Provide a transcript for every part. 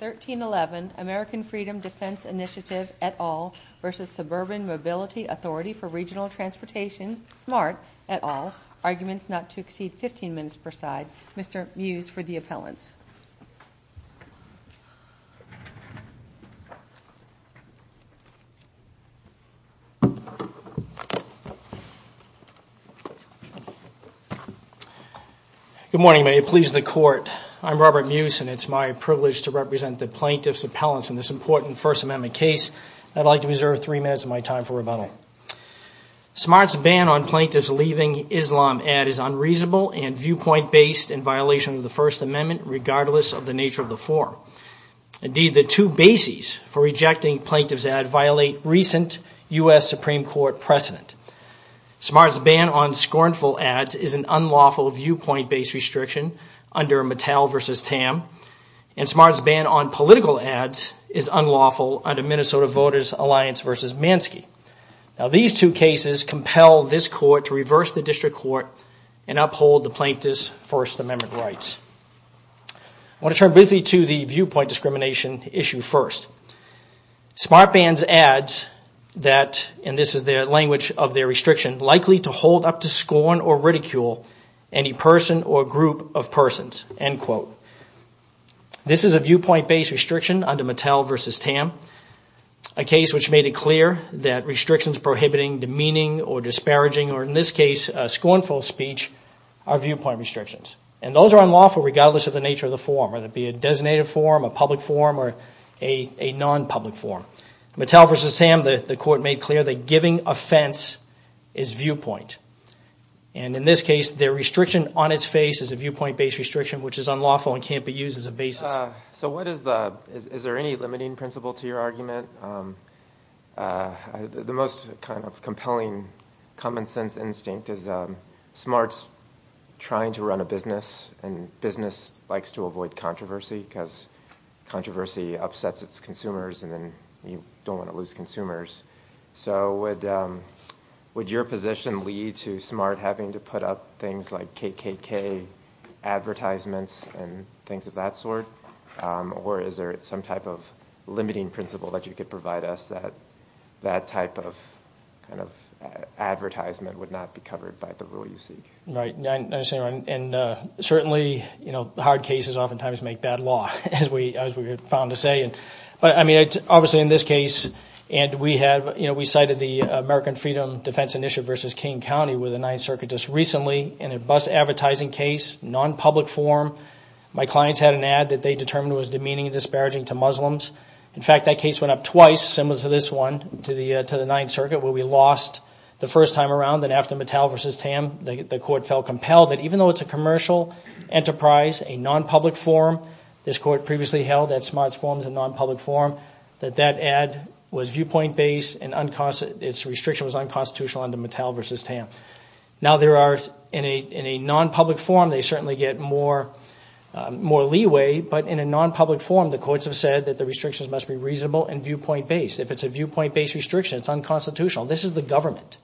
1311, American Freedom Defense Initiative, et al. v. Suburban Mobility Authority for Regional Transportation, SMART, et al. Arguments not to exceed 15 minutes per side. Mr. Mews for the appellants. Good morning, may it please the court. I'm Robert Mews and it's my privilege to represent the plaintiff's appellants in this important First Amendment case. I'd like to reserve three minutes of my time for rebuttal. SMART's ban on plaintiffs leaving Islam ad is unreasonable and viewpoint-based in violation of the First Amendment regardless of the nature of the form. Indeed, the two bases for rejecting plaintiff's ad violate recent U.S. Supreme Court precedent. SMART's ban on scornful ads is an unlawful viewpoint-based restriction under Mattel v. Tam and SMART's ban on political ads is unlawful under Minnesota Voters Alliance v. Mansky. Now these two cases compel this court to reverse the district court and uphold the plaintiff's First Amendment rights. I want to turn briefly to the viewpoint discrimination issue first. SMART bans ads that, and this is the language of their restriction, likely to hold up to scorn or ridicule any person or group of persons. This is a viewpoint-based restriction under Mattel v. Tam, a case which made it clear that restrictions prohibiting demeaning or disparaging, or in this case, scornful speech, are viewpoint restrictions. Those are unlawful regardless of the nature of the form, whether it be a designated form, a public form, or a non-public form. Mattel v. Tam, the court made clear that giving offense is viewpoint. In this case, the restriction on its face is a viewpoint-based restriction which is unlawful and can't be used as a basis. So what is the, is there any limiting principle to your argument? The most kind of compelling common sense instinct is SMART's trying to run a business, and business likes to avoid controversy because controversy upsets its consumers, and then you don't want to lose consumers. So would your position lead to SMART having to put up things like KKK advertisements and things of that sort? Or is there some type of limiting principle that you could provide us that that type of kind of advertisement would not be covered by the rule you seek? Right. And certainly, you know, the hard cases oftentimes make bad law, as we have found to say. But I mean, obviously in this case, and we have, you know, we cited the American Freedom Defense Initiative v. King County with the Ninth Circuit just recently in a SMART's advertising case, non-public form. My clients had an ad that they determined was demeaning and disparaging to Muslims. In fact, that case went up twice, similar to this one, to the Ninth Circuit, where we lost the first time around. Then after Mattel v. Tam, the court felt compelled that even though it's a commercial enterprise, a non-public form, this court previously held that SMART's form is a non-public form, that that ad was viewpoint-based and its restriction was unconstitutional under Mattel v. Tam. Now there are, in a non-public form, they certainly get more leeway. But in a non-public form, the courts have said that the restrictions must be reasonable and viewpoint-based. If it's a viewpoint-based restriction, it's unconstitutional. This is the government,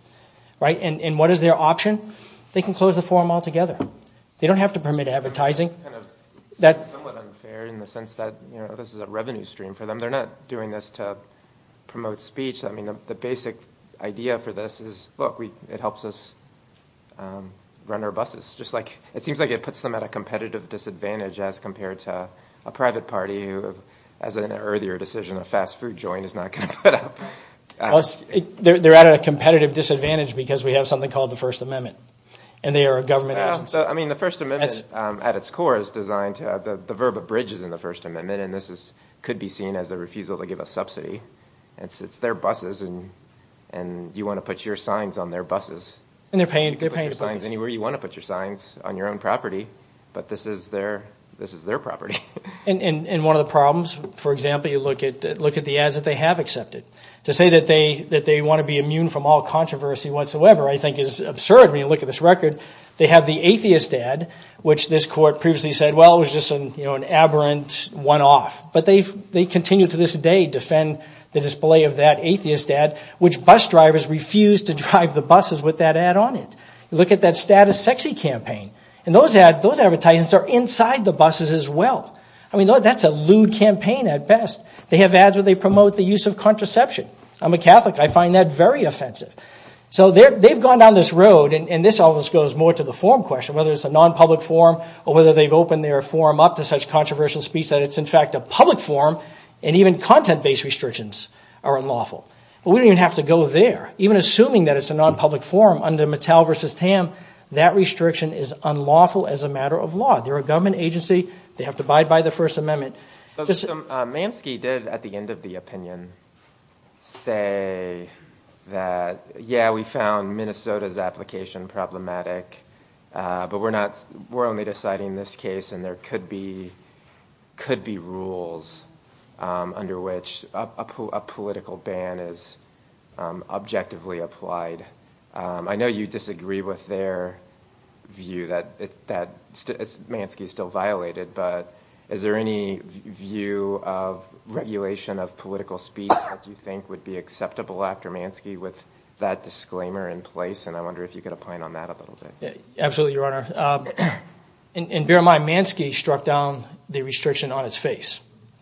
right? And what is their option? They can close the form altogether. They don't have to permit advertising. It's somewhat unfair in the sense that, you know, this is a revenue stream for them. They're not doing this to promote speech. I mean, the basic idea for this is, look, it helps us run our buses. It seems like it puts them at a competitive disadvantage as compared to a private party who, as in an earlier decision, a fast food joint is not going to put up. They're at a competitive disadvantage because we have something called the First Amendment, and they are a government agency. Well, I mean, the First Amendment at its core is designed to, the verb abridges in the First Amendment, and this could be seen as a refusal to give a subsidy. It's their buses, and you want to put your signs on their buses. And they're paying the price. You can put your signs anywhere you want to put your signs on your own property, but this is their property. And one of the problems, for example, you look at the ads that they have accepted. To say that they want to be immune from all controversy whatsoever, I think, is absurd when you look at this record. They have the atheist ad, which this court previously said, well, it was just an aberrant one-off. But they continue to this day defend the display of that atheist ad, which bus drivers refuse to drive the buses with that ad on it. Look at that status sexy campaign. And those ads, those advertisements are inside the buses as well. I mean, that's a lewd campaign at best. They have ads where they promote the use of contraception. I'm a Catholic. I find that very offensive. So they've gone down this road, and this almost goes more to the form question, whether it's a non-public form or whether they've opened their form up to such controversial speech that it's, in fact, a public form, and even content-based restrictions are unlawful. But we don't even have to go there. Even assuming that it's a non-public form under Mattel versus Tam, that restriction is unlawful as a matter of law. They're a government agency. They have to abide by the First Amendment. Mansky did, at the end of the opinion, say that, yeah, we found Minnesota's application problematic, but we're only deciding this case, and there could be rules under which a political ban is objectively applied. I know you disagree with their view that Mansky is still violated, but is there any view of regulation of political speech that you think would be acceptable after Mansky with that disclaimer in place? And I wonder if you could point on that a little bit. Absolutely, Your Honor. In bear in mind, Mansky struck down the restriction on its face.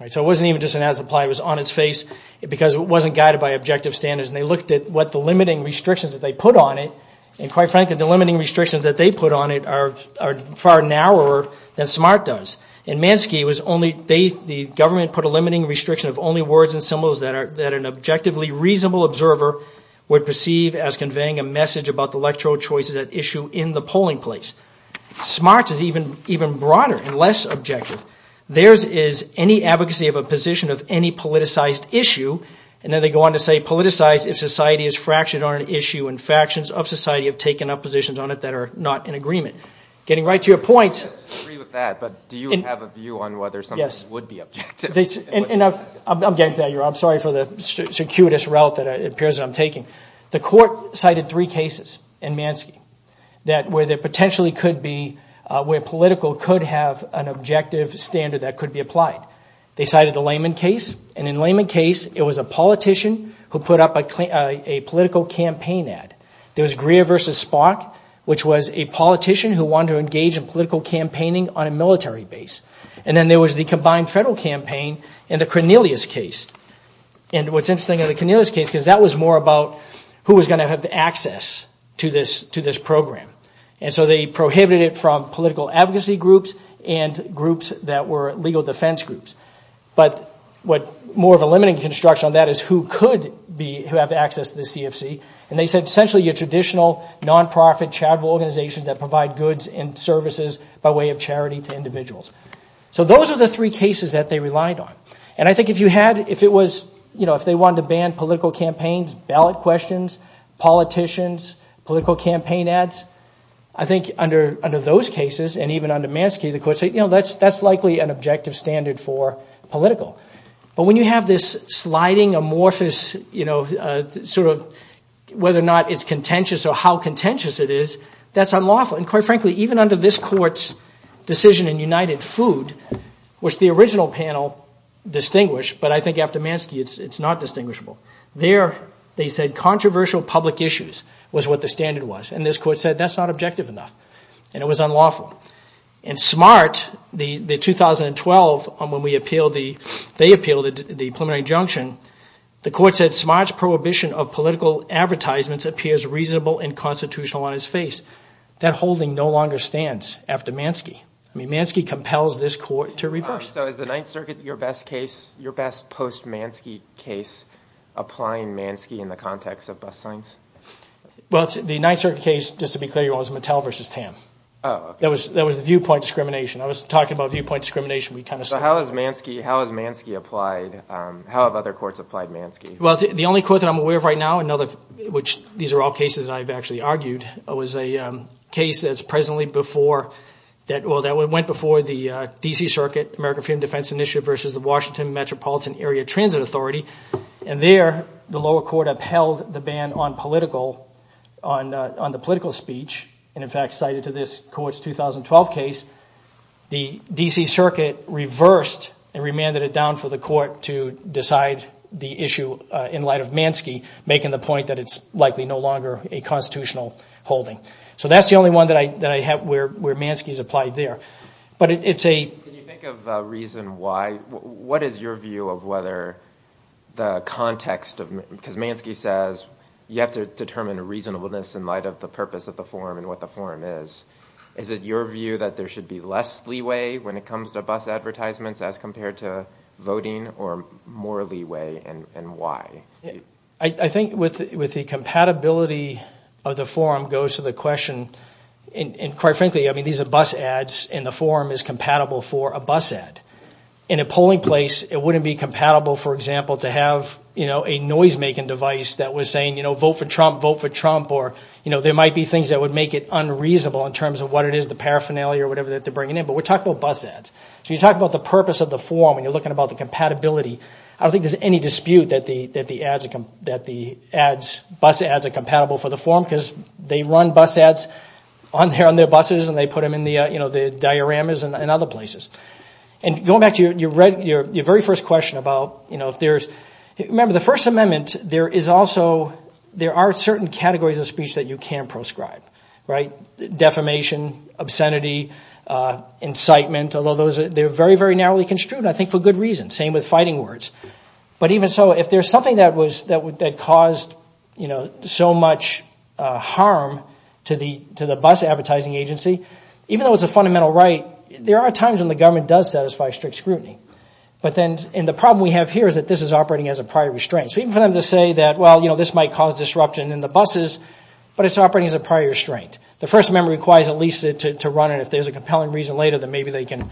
So it wasn't even just an as-implied, it was on its face because it wasn't guided by objective standards, and they looked at what the limiting restrictions that they put on it, and quite frankly, the limiting restrictions that they put on it are far narrower than SMART does. In Mansky, the government put a limiting restriction of only words and symbols that an objectively reasonable observer would perceive as conveying a message about the electoral choices at issue in the polling place. SMART is even broader and less objective. Theirs is any advocacy of a position of any politicized issue, and then they go on to say, politicize if society is fractured on an issue and factions of society have taken up positions on it that are not in agreement. Getting right to your point... I agree with that, but do you have a view on whether something would be objective? I'm getting to that, Your Honor. I'm sorry for the circuitous route that it appears I'm taking. The court cited three cases in Mansky where there potentially could be, where political could have an objective standard that could be applied. They cited the Lehman case, and in the Lehman case, it was a politician who put up a political campaign ad. There was Greer versus Spock, which was a politician who wanted to engage in political campaigning on a military base. And then there was the combined federal campaign and the Cornelius case. And what's interesting in the Cornelius case, because that was more about who was going to have access to this program. And so they prohibited it from political advocacy groups and groups that were legal defense groups. But what more of a limiting construction on that is who could be, who have access to the CFC. And they said essentially your traditional nonprofit charitable organizations that provide goods and services by way of charity to individuals. So those are the three cases that they relied on. And I think if you had, if it was, you know, if they wanted to ban political campaigns, ballot questions, politicians, political campaign ads, I think under those cases and even under Mansky, the court said, you know, that's likely an objective standard for political. But when you have this sliding amorphous, you know, sort of whether or not it's contentious or how contentious it is, that's unlawful. And quite frankly, even under this court's decision in United Food, which the original panel distinguished, but I think after Mansky it's not distinguishable. There they said controversial public issues was what the standard was. And this court said that's not objective enough. And it was unlawful. And SMART, the 2012, when we appealed the, they appealed the preliminary injunction, the court said SMART's prohibition of political advertisements appears reasonable and constitutional on his face. That holding no longer stands after Mansky. I mean, Mansky compels this court to reverse it. So is the Ninth Circuit your best case, your best post-Mansky case, applying Mansky in the context of bus signs? Well, the Ninth Circuit case, just to be clear, was Mattel versus Tam. That was the viewpoint discrimination. I was talking about viewpoint discrimination. So how has Mansky applied? How have other courts applied Mansky? Well, the only court that I'm aware of right now, which these are all cases that I've actually argued, was a case that's presently before, that went before the D.C. Circuit American Freedom of Defense Initiative versus the Washington Metropolitan Area Transit Authority. And there, the lower court upheld the ban on political, on the political speech, and in fact cited to this court's 2012 case, the D.C. Circuit reversed and remanded it down for the court to decide the issue in light of Mansky, making the point that it's likely no longer a constitutional holding. So that's the only one that I have where Mansky's applied there. But it's a... Can you think of a reason why? What is your view of whether the context of, because Mansky says you have to determine reasonableness in light of the purpose of the form and what the form is, is it your view that there should be less leeway when it comes to bus advertisements as compared to voting or more leeway and why? I think with the compatibility of the form goes to the question, and quite frankly, I mean, these are bus ads, and the form is compatible for a bus ad. In a polling place, it wouldn't be compatible, for example, to have a noise-making device that was saying, you know, vote for Trump, vote for Trump, or there might be things that would make it unreasonable in terms of what it is, the paraphernalia or whatever that they're bringing in. But we're talking about bus ads. So you talk about the purpose of the form when you're looking about the compatibility, I don't think there's any dispute that the ads, bus ads are compatible for the form because they run bus ads on their buses and they put them in the dioramas and other places. And going back to your very first question about, you know, if there's... Remember, the First Amendment, there is also, there are certain categories of speech that you can proscribe, right? Defamation, obscenity, incitement, although they're very, very narrowly construed, I think, for good reason. Same with fighting words. But even so, if there's something that caused, you know, so much harm to the bus advertising agency, even though it's a fundamental right, there are times when the government does satisfy strict scrutiny. But then, and the problem we have here is that this is operating as a prior restraint. So even for them to say that, well, you know, this might cause disruption in the buses, but it's operating as a prior restraint. The First Amendment requires at least to run it. If there's a compelling reason later, then maybe they can,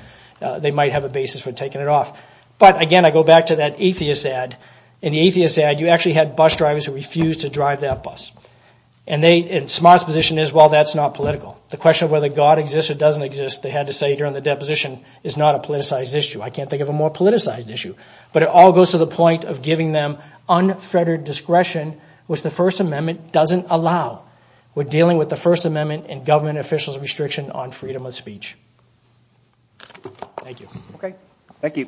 they might have a basis for taking it off. But again, I go back to that atheist ad. In the atheist ad, you actually had bus drivers who refused to drive that bus. And they, and Smart's position is, well, that's not political. The question of whether God exists or doesn't exist, they had to say during the deposition, is not a politicized issue. I can't think of a more politicized issue. But it all goes to the point of giving them unfettered discretion, which the First Amendment doesn't allow. We're dealing with the First Amendment and government officials' restriction on freedom of speech. Thank you. Okay. Thank you.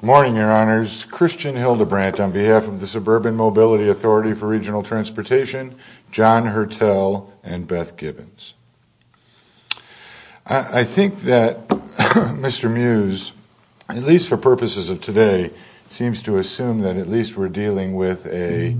Good morning, Your Honors. Christian Hildebrandt on behalf of the Suburban Mobility Authority for Regional Transportation, John Hertel and Beth Gibbons. I think that Mr. Mews, at least for purposes of today, seems to assume that at least we're dealing with a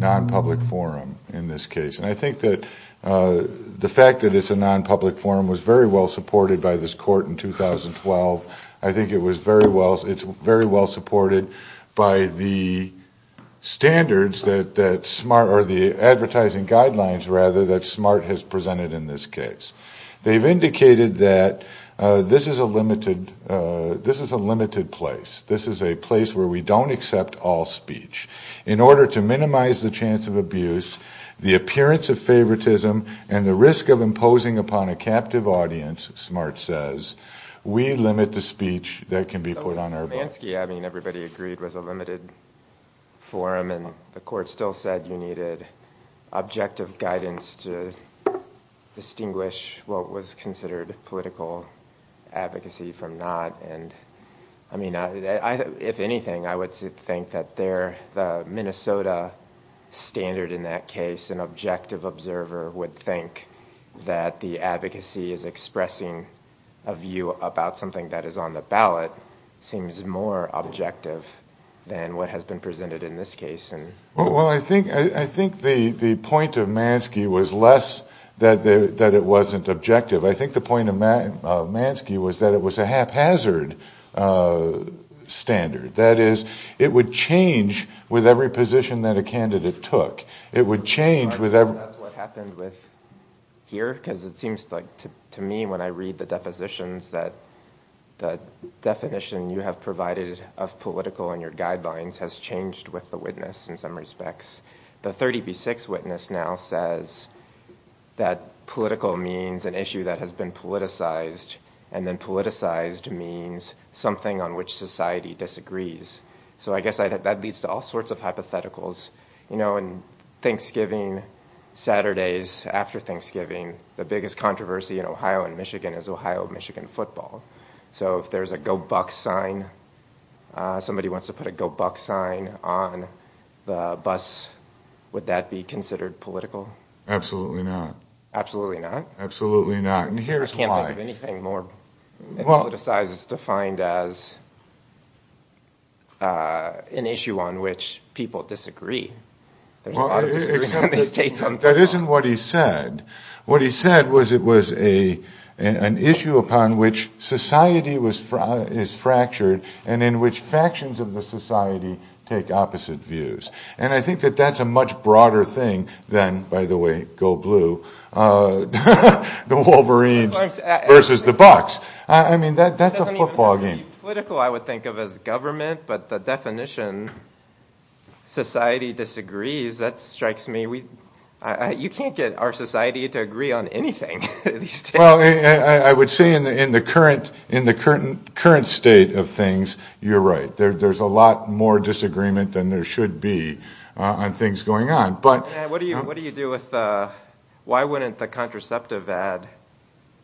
non-public forum in this case. And I think that the fact that it's a non-public forum was very well supported by this court in 2012. I think it was very well, it's very well supported by the standards that Smart, or the advertising guidelines, rather, that Smart has presented in this case. They've indicated that this is a limited, this is a limited place. This is a place where we don't accept all speech. In order to minimize the chance of abuse, the appearance of favoritism, and the risk of imposing upon a captive audience, Smart says, we limit the speech that can be put on our books. I mean, everybody agreed it was a limited forum and the court still said you needed objective guidance to distinguish what was considered political advocacy from not. And I mean, if anything, I would think that there, the Minnesota standard in that case, an objective observer would think that the advocacy is expressing a view about something that is on the ballot, seems more objective than what has been presented in this case. Well, I think the point of Mansky was less that it wasn't objective. I think the point of Mansky was that it was a haphazard standard. That is, it would change with every position that a candidate took. It would change with every... I think that's what happened with here, because it seems to me when I read the depositions that the definition you have provided of political in your guidelines has changed with the witness in some respects. The 30 v. 6 witness now says that political means an issue that has been politicized, and then politicized means something on which society disagrees. So I know in Thanksgiving, Saturdays after Thanksgiving, the biggest controversy in Ohio and Michigan is Ohio-Michigan football. So if there's a Go Bucs sign, somebody wants to put a Go Bucs sign on the bus, would that be considered political? Absolutely not. Absolutely not? Absolutely not. And here's why. I can't think of anything more politicized as defined as an issue on which people disagree There's a lot of disagreement in the states on football. That isn't what he said. What he said was it was an issue upon which society is fractured and in which factions of the society take opposite views. And I think that that's a much broader thing than, by the way, Go Blue, the Wolverines versus the Bucs. I mean, that's a football game. Political I would think of as government, but the definition, society disagrees, that strikes me. You can't get our society to agree on anything in these states. I would say in the current state of things, you're right. There's a lot more disagreement than there should be on things going on. What do you do with the, why wouldn't the contraceptive ad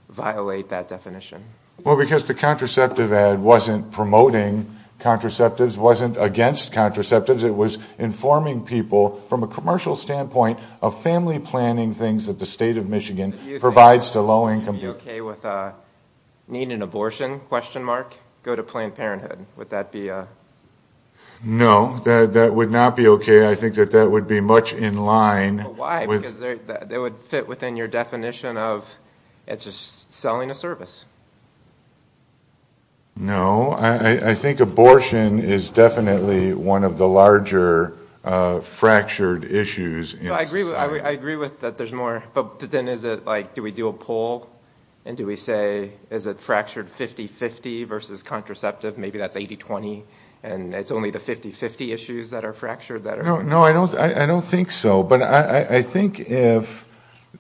violate that definition? Well, because the contraceptive ad wasn't promoting contraceptives, wasn't against contraceptives. It was informing people from a commercial standpoint of family planning things that the state of Michigan provides to low-income people. Do you think people would be okay with needing an abortion? Go to Planned Parenthood. Would that be a... No, that would not be okay. I think that that would be much in line with... No, I think abortion is definitely one of the larger fractured issues in society. I agree with that there's more, but then is it like, do we do a poll and do we say, is it fractured 50-50 versus contraceptive? Maybe that's 80-20 and it's only the 50-50 issues that are fractured that are... No, I don't think so, but I think if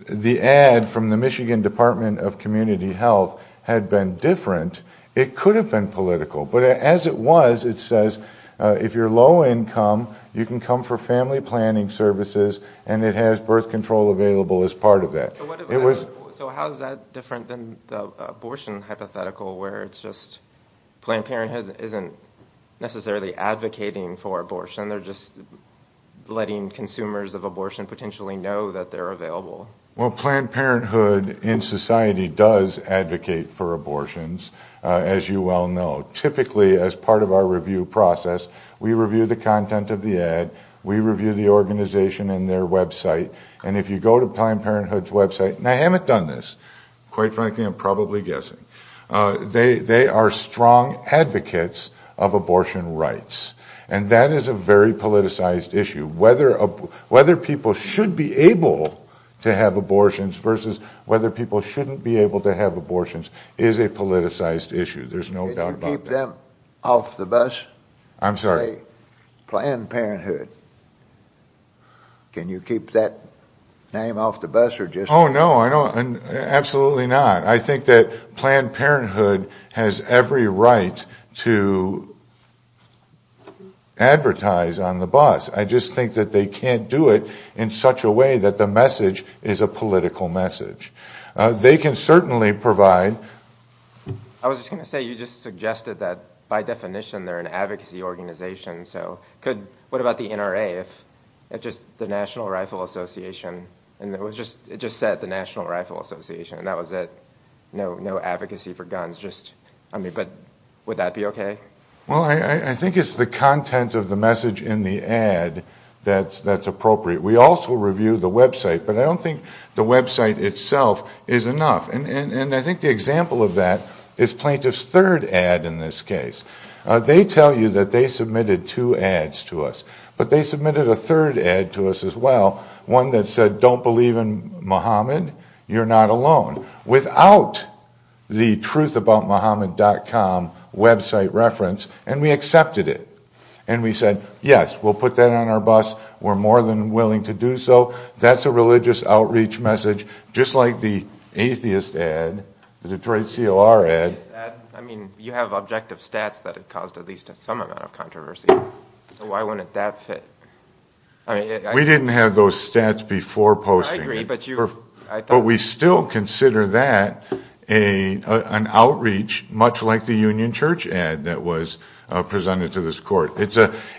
the ad from the Michigan Department of Community Health had been different, it could have been political. But as it was, it says, if you're low-income, you can come for family planning services and it has birth control available as part of that. So how is that different than the abortion hypothetical where it's just Planned Parenthood isn't necessarily advocating for abortion, they're just letting consumers of abortion potentially know that they're available? Well, Planned Parenthood in society does advocate for abortions, as you well know. Typically as part of our review process, we review the content of the ad, we review the organization and their website. And if you go to Planned Parenthood's website, and I haven't done this, quite frankly I'm probably guessing, they are strong advocates of abortion rights. And that is a very politicized issue. Whether people should be able to have abortions versus whether people shouldn't be able to have abortions is a politicized issue, there's no doubt about that. Did you keep them off the bus? I'm sorry? Planned Parenthood. Can you keep that name off the bus or just... I was just going to say, you just suggested that by definition they're an advocacy organization, so what about the NRA, the National Rifle Association, and it just said the National Rifle Association, and that was it. No advocacy for guns, but would that be okay? Well, I think it's the content of the message in the ad that's appropriate. We also review the website, but I don't think the website itself is enough. And I think the example of that is Plaintiff's third ad in this case. They tell you that they submitted two ads to us, but they submitted a third ad to us as well, one that said, don't believe in Muhammad, you're not alone. Without the truthaboutmuhammad.com website reference, and we accepted it, and we said, yes, we'll put that on our bus, we're more than willing to do so. That's a religious outreach message, just like the atheist ad, the Detroit COR ad. I mean, you have objective stats that have caused at least some amount of controversy. Why wouldn't that fit? We didn't have those stats before posting it. I agree, but you... But we still consider that an outreach, much like the Union Church ad that was presented to this court.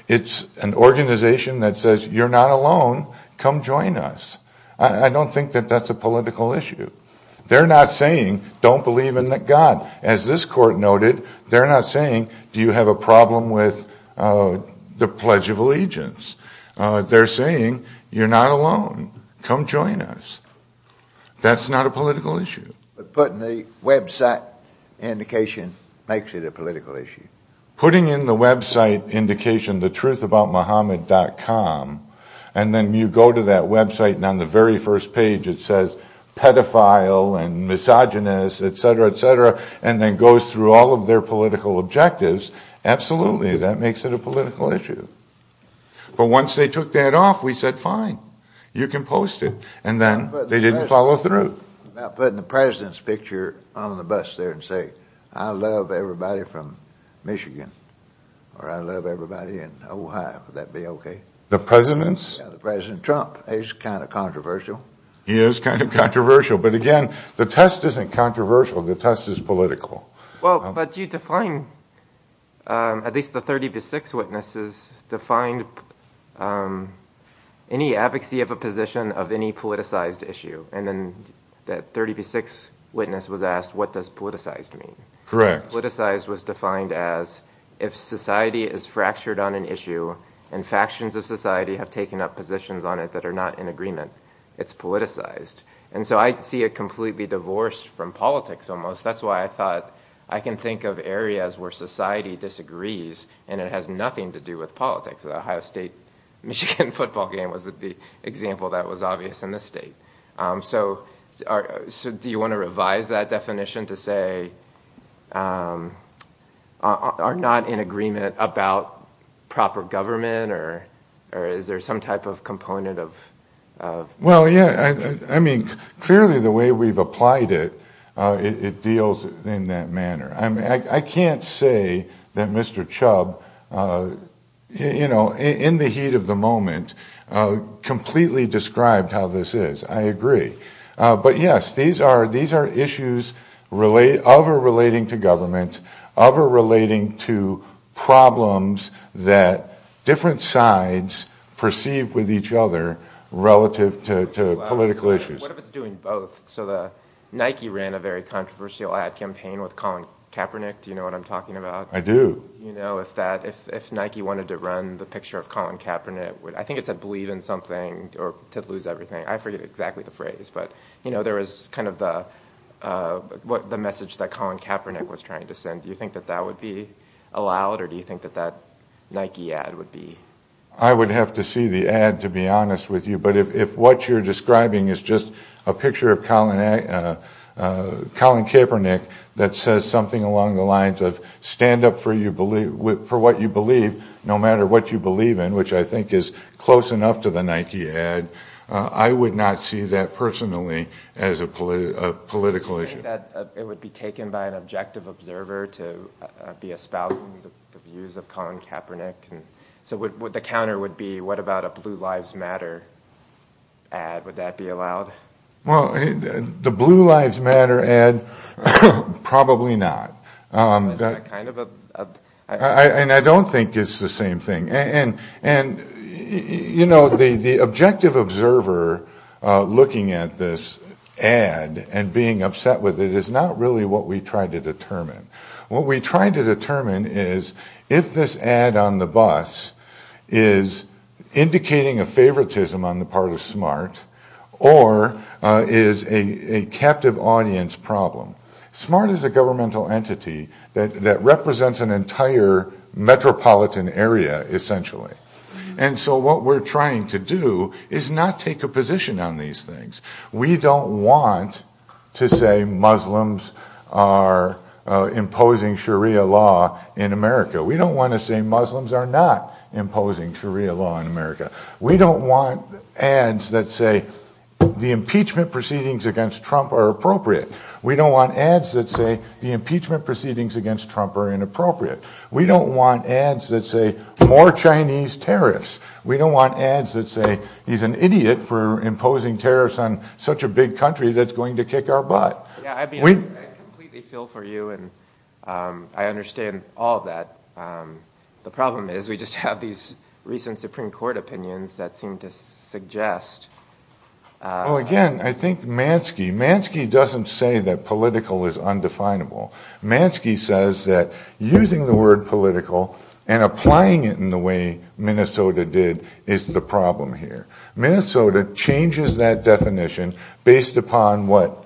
It's an organization that says, you're not alone, come join us. I don't think that that's a political issue. They're not saying, don't believe in God. As this court noted, they're not saying, do you have a problem with the Pledge of Allegiance? They're saying, you're not alone, come join us. That's not a political issue. But putting the website indication makes it a political issue. Putting in the website indication, the truthaboutmuhammad.com, and then you go to that website, and on the very first page it says, pedophile and misogynist, et cetera, et cetera, and then goes through all of their political objectives, absolutely, that makes it a political issue. But once they took that off, we said, fine, you can post it, and then they didn't follow through. Now putting the president's picture on the bus there and say, I love everybody from Michigan, or I love everybody in Ohio, would that be okay? The president's? Yeah, the President Trump, he's kind of controversial. He is kind of controversial, but again, the test isn't controversial, the test is political. Well, but you define, at least the 30 v. 6 witnesses, defined any advocacy of a position of any politicized issue, and then that 30 v. 6 witness was asked, what does politicized mean? Correct. Politicized was defined as, if society is fractured on an issue, and factions of society have taken up positions on it that are not in agreement, it's politicized. And so I see it completely divorced from politics, almost. That's why I thought, I can think of areas where society disagrees, and it has nothing to do with politics. The Ohio State-Michigan football game was the example that was obvious in this state. So do you want to revise that definition to say, are not in agreement about proper government, or is there some type of component of... Well, yeah, I mean, clearly the way we've applied it, it deals in that manner. I can't say that Mr. Chubb, in the heat of the moment, completely described how this is. I agree. But yes, these are issues of or relating to government, of or relating to problems that different sides perceive with each other relative to political issues. What if it's doing both? So the Nike ran a very controversial ad campaign with Colin Kaepernick. Do you know what I'm talking about? I do. You know, if Nike wanted to run the picture of Colin Kaepernick, I think it said, believe in something or to lose everything. I forget exactly the phrase, but there was kind of the message that Colin Kaepernick was trying to send. Do you think that that would be allowed, or do you think that that Nike ad would be... I would have to see the ad, to be honest with you. But if what you're describing is just a picture of Colin Kaepernick that says something along the lines of, stand up for what you believe, no matter what you believe in, which I think is close enough to the Nike ad, I would not see that personally as a political issue. Do you think that it would be taken by an objective observer to be espousing the views of Colin Kaepernick? So the counter would be, what about a Blue Lives Matter ad, would that be allowed? The Blue Lives Matter ad, probably not. Is that kind of a... I don't think it's the same thing. And, you know, the objective observer looking at this ad and being upset with it is not really what we try to determine. What we try to determine is if this ad on the bus is indicating a favoritism on the part of SMART, or is a captive audience problem. SMART is a governmental entity that represents an entire metropolitan area, essentially. And so what we're trying to do is not take a position on these things. We don't want to say Muslims are imposing Sharia law in America. We don't want to say Muslims are not imposing Sharia law in America. We don't want ads that say the impeachment proceedings against Trump are appropriate. We don't want ads that say the impeachment proceedings against Trump are appropriate. We don't want ads that say he's an idiot for imposing tariffs on such a big country that's going to kick our butt. Yeah, I completely feel for you and I understand all of that. The problem is we just have these recent Supreme Court opinions that seem to suggest... Well, again, I think Mansky, Mansky doesn't say that political is undefinable. Mansky says that using the word political and applying it in the way Minnesota did is the problem here. Minnesota changes that definition based upon what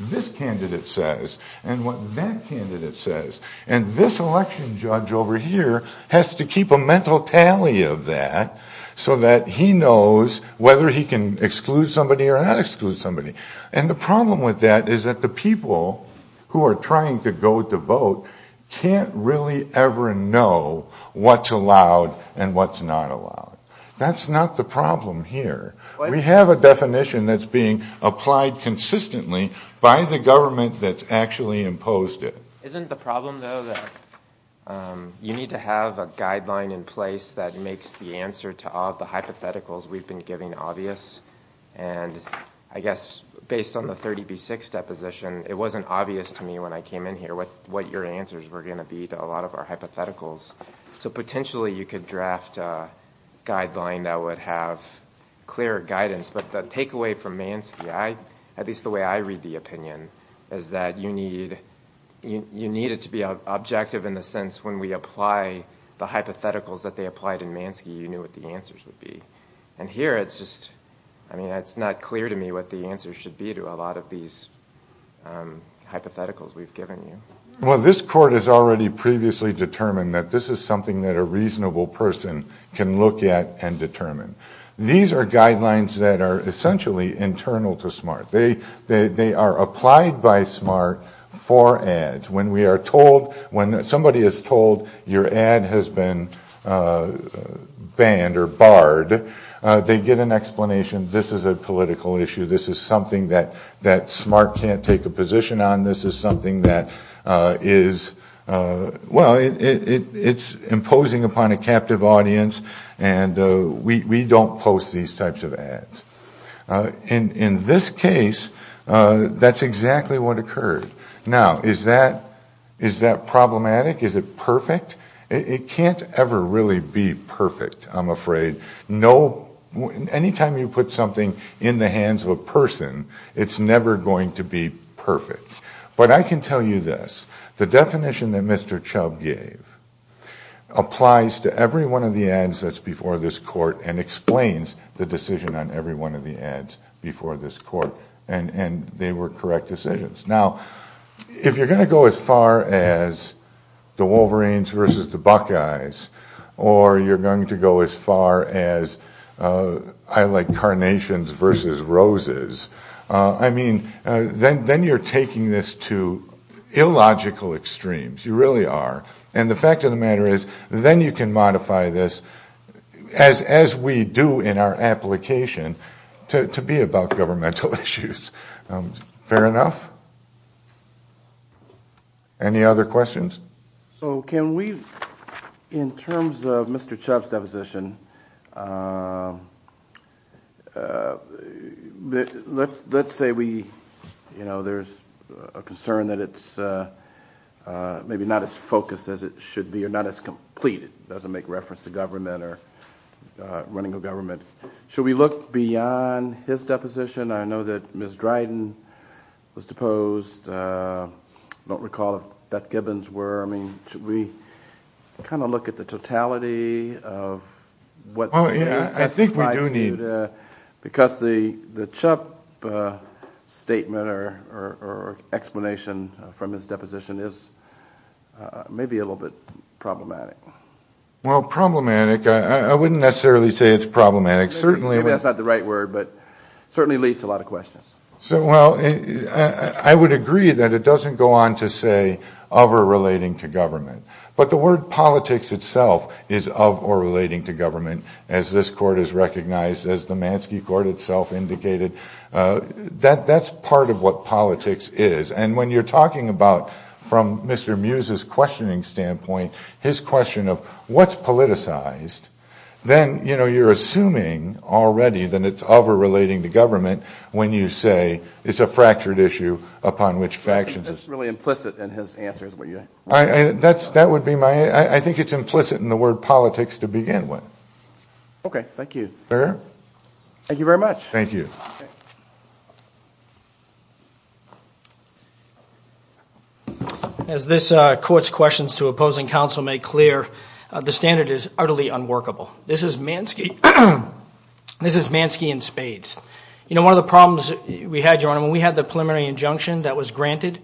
this candidate says and what that candidate says. And this election judge over here has to keep a mental tally of that so that he knows whether he can exclude somebody or not exclude somebody. And the problem with that is that the people who are trying to go to vote can't really ever know what's allowed and what's not allowed. That's not the problem here. We have a definition that's being applied consistently by the government that's actually imposed it. Isn't the problem though that you need to have a guideline in place that makes the answer to all of the hypotheticals we've been giving obvious? And I guess based on the 30B6 deposition, it wasn't obvious to me when I came in here what your answers were going to be to a lot of our hypotheticals. So potentially you could draft a guideline that would have clear guidance. But the takeaway from Mansky, at least the way I read the opinion, is that you need it to be objective in the sense when we apply the hypotheticals that they applied in Mansky, you knew what the answers would be. And here it's just, I mean, it's not clear to me what the answers should be to a lot of these hypotheticals we've given you. Well, this court has already previously determined that this is something that a reasonable person can look at and determine. These are guidelines that are essentially internal to SMART. They are applied by SMART for ads. When we are told, when somebody is told your ad has been banned or barred, they get an explanation, this is a political issue, this is something that SMART can't take a position on, this is something that is, well, it's imposing upon a captive audience and we don't post these types of ads. In this case, that's exactly what occurred. Now, is that problematic? Is it perfect? It can't ever really be perfect. I'm afraid. Anytime you put something in the hands of a person, it's never going to be perfect. But I can tell you this, the definition that Mr. Chubb gave applies to every one of the ads that's before this court and explains the decision on every one of the ads before this court and they were correct decisions. Now, if you're going to go as far as the Wolverines versus the Buckeyes or you're going to go as far as, I like Carnations versus Roses, then you're taking this to illogical extremes. You really are. And the fact of the matter is then you can modify this as we do in our application to be about governmental issues. Fair enough. Any other questions? So can we, in terms of Mr. Chubb's deposition, let's say we, you know, there's a concern that it's maybe not as focused as it should be or not as complete. It doesn't make reference to government or running a government. Should we look beyond his deposition? I know that Ms. Dryden was deposed. I don't recall if Beth Gibbons were. I mean, should we kind of look at the totality of what's needed? I think we do need. Because the Chubb statement or explanation from his deposition is maybe a little bit problematic. Well, problematic. I wouldn't necessarily say it's problematic. Certainly, it's not So well, I would agree that it doesn't go on to say of or relating to government. But the word politics itself is of or relating to government, as this Court has recognized, as the Mansky Court itself indicated. That's part of what politics is. And when you're talking about, from Mr. Mews's questioning standpoint, his question of what's politicized, then you're assuming already that it's of or relating to government when you say it's a fractured issue upon which factions That's really implicit in his answer, is what you're saying. That would be my, I think it's implicit in the word politics to begin with. Okay, thank you. Thank you very much. Thank you. As this Court's questions to opposing counsel make clear, the standard is utterly unworkable. This is Mansky in spades. You know, one of the problems we had, Your Honor, when we had the preliminary injunction that was granted,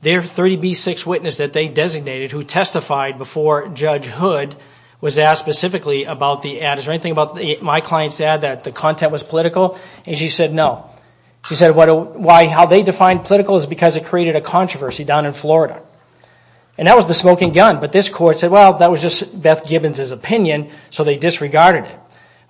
their 30B6 witness that they designated who testified before Judge Hood was asked specifically about the ad, is there anything about my client's ad that the content was political? And she said no. She said how they defined political is because it created a controversy down in Florida. And that was the smoking gun. But this Court said, well, that was just Beth Gibbons' opinion, so they disregarded it.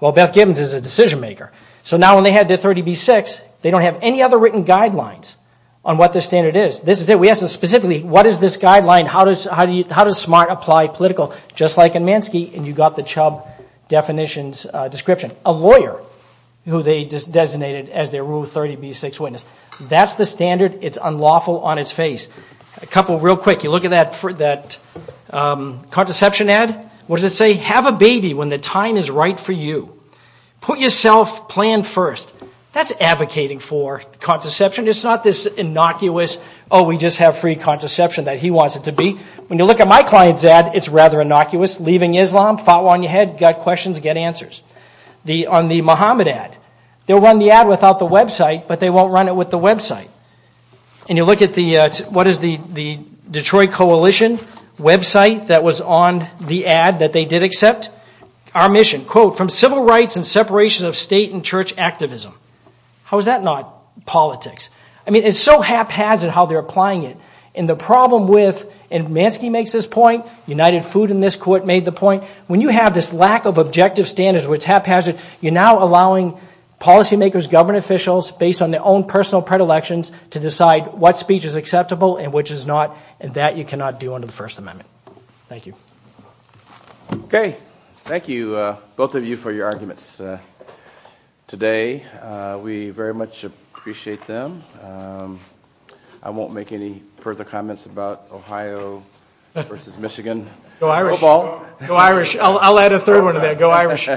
Well, Beth Gibbons is a decision maker. So now when they had their 30B6, they don't have any other written guidelines on what the standard is. This is it. We asked them specifically, what is this guideline? How does SMART apply political? Just like in Mansky, and you got the Chubb definition's description. A lawyer who they designated as their Rule 30B6 witness. That's the standard. It's unlawful on its face. A couple real quick. You look at that contraception ad. What does it say? Have a baby when the time is right for you. Put yourself plan first. That's advocating for contraception. It's not this innocuous, oh, we just have free contraception that he wants it to be. When you look at my client's ad, it's rather innocuous. Leaving Islam, foul on your head, got questions, get answers. On the Mohammed ad, they'll run the ad without the website, but they won't run it with the website. And you look at the, what is the Detroit Coalition website that was on the ad that they did accept? Our mission. Quote, from civil rights and separation of state and church activism. How is that not politics? I mean, it's so haphazard how they're applying it. And the problem with, and Mansky makes this point, United Food and this court made the point, when you have this lack of objective standards where it's haphazard, you're now allowing policy makers, government officials based on their own personal predilections to decide what speech is acceptable and which is not, and that you cannot do under the First Amendment. Thank you. Okay. Thank you, both of you, for your arguments today. We very much appreciate them. I won't make any further comments about Ohio versus Michigan. Go Irish. I'll add a third one to that. Go Irish.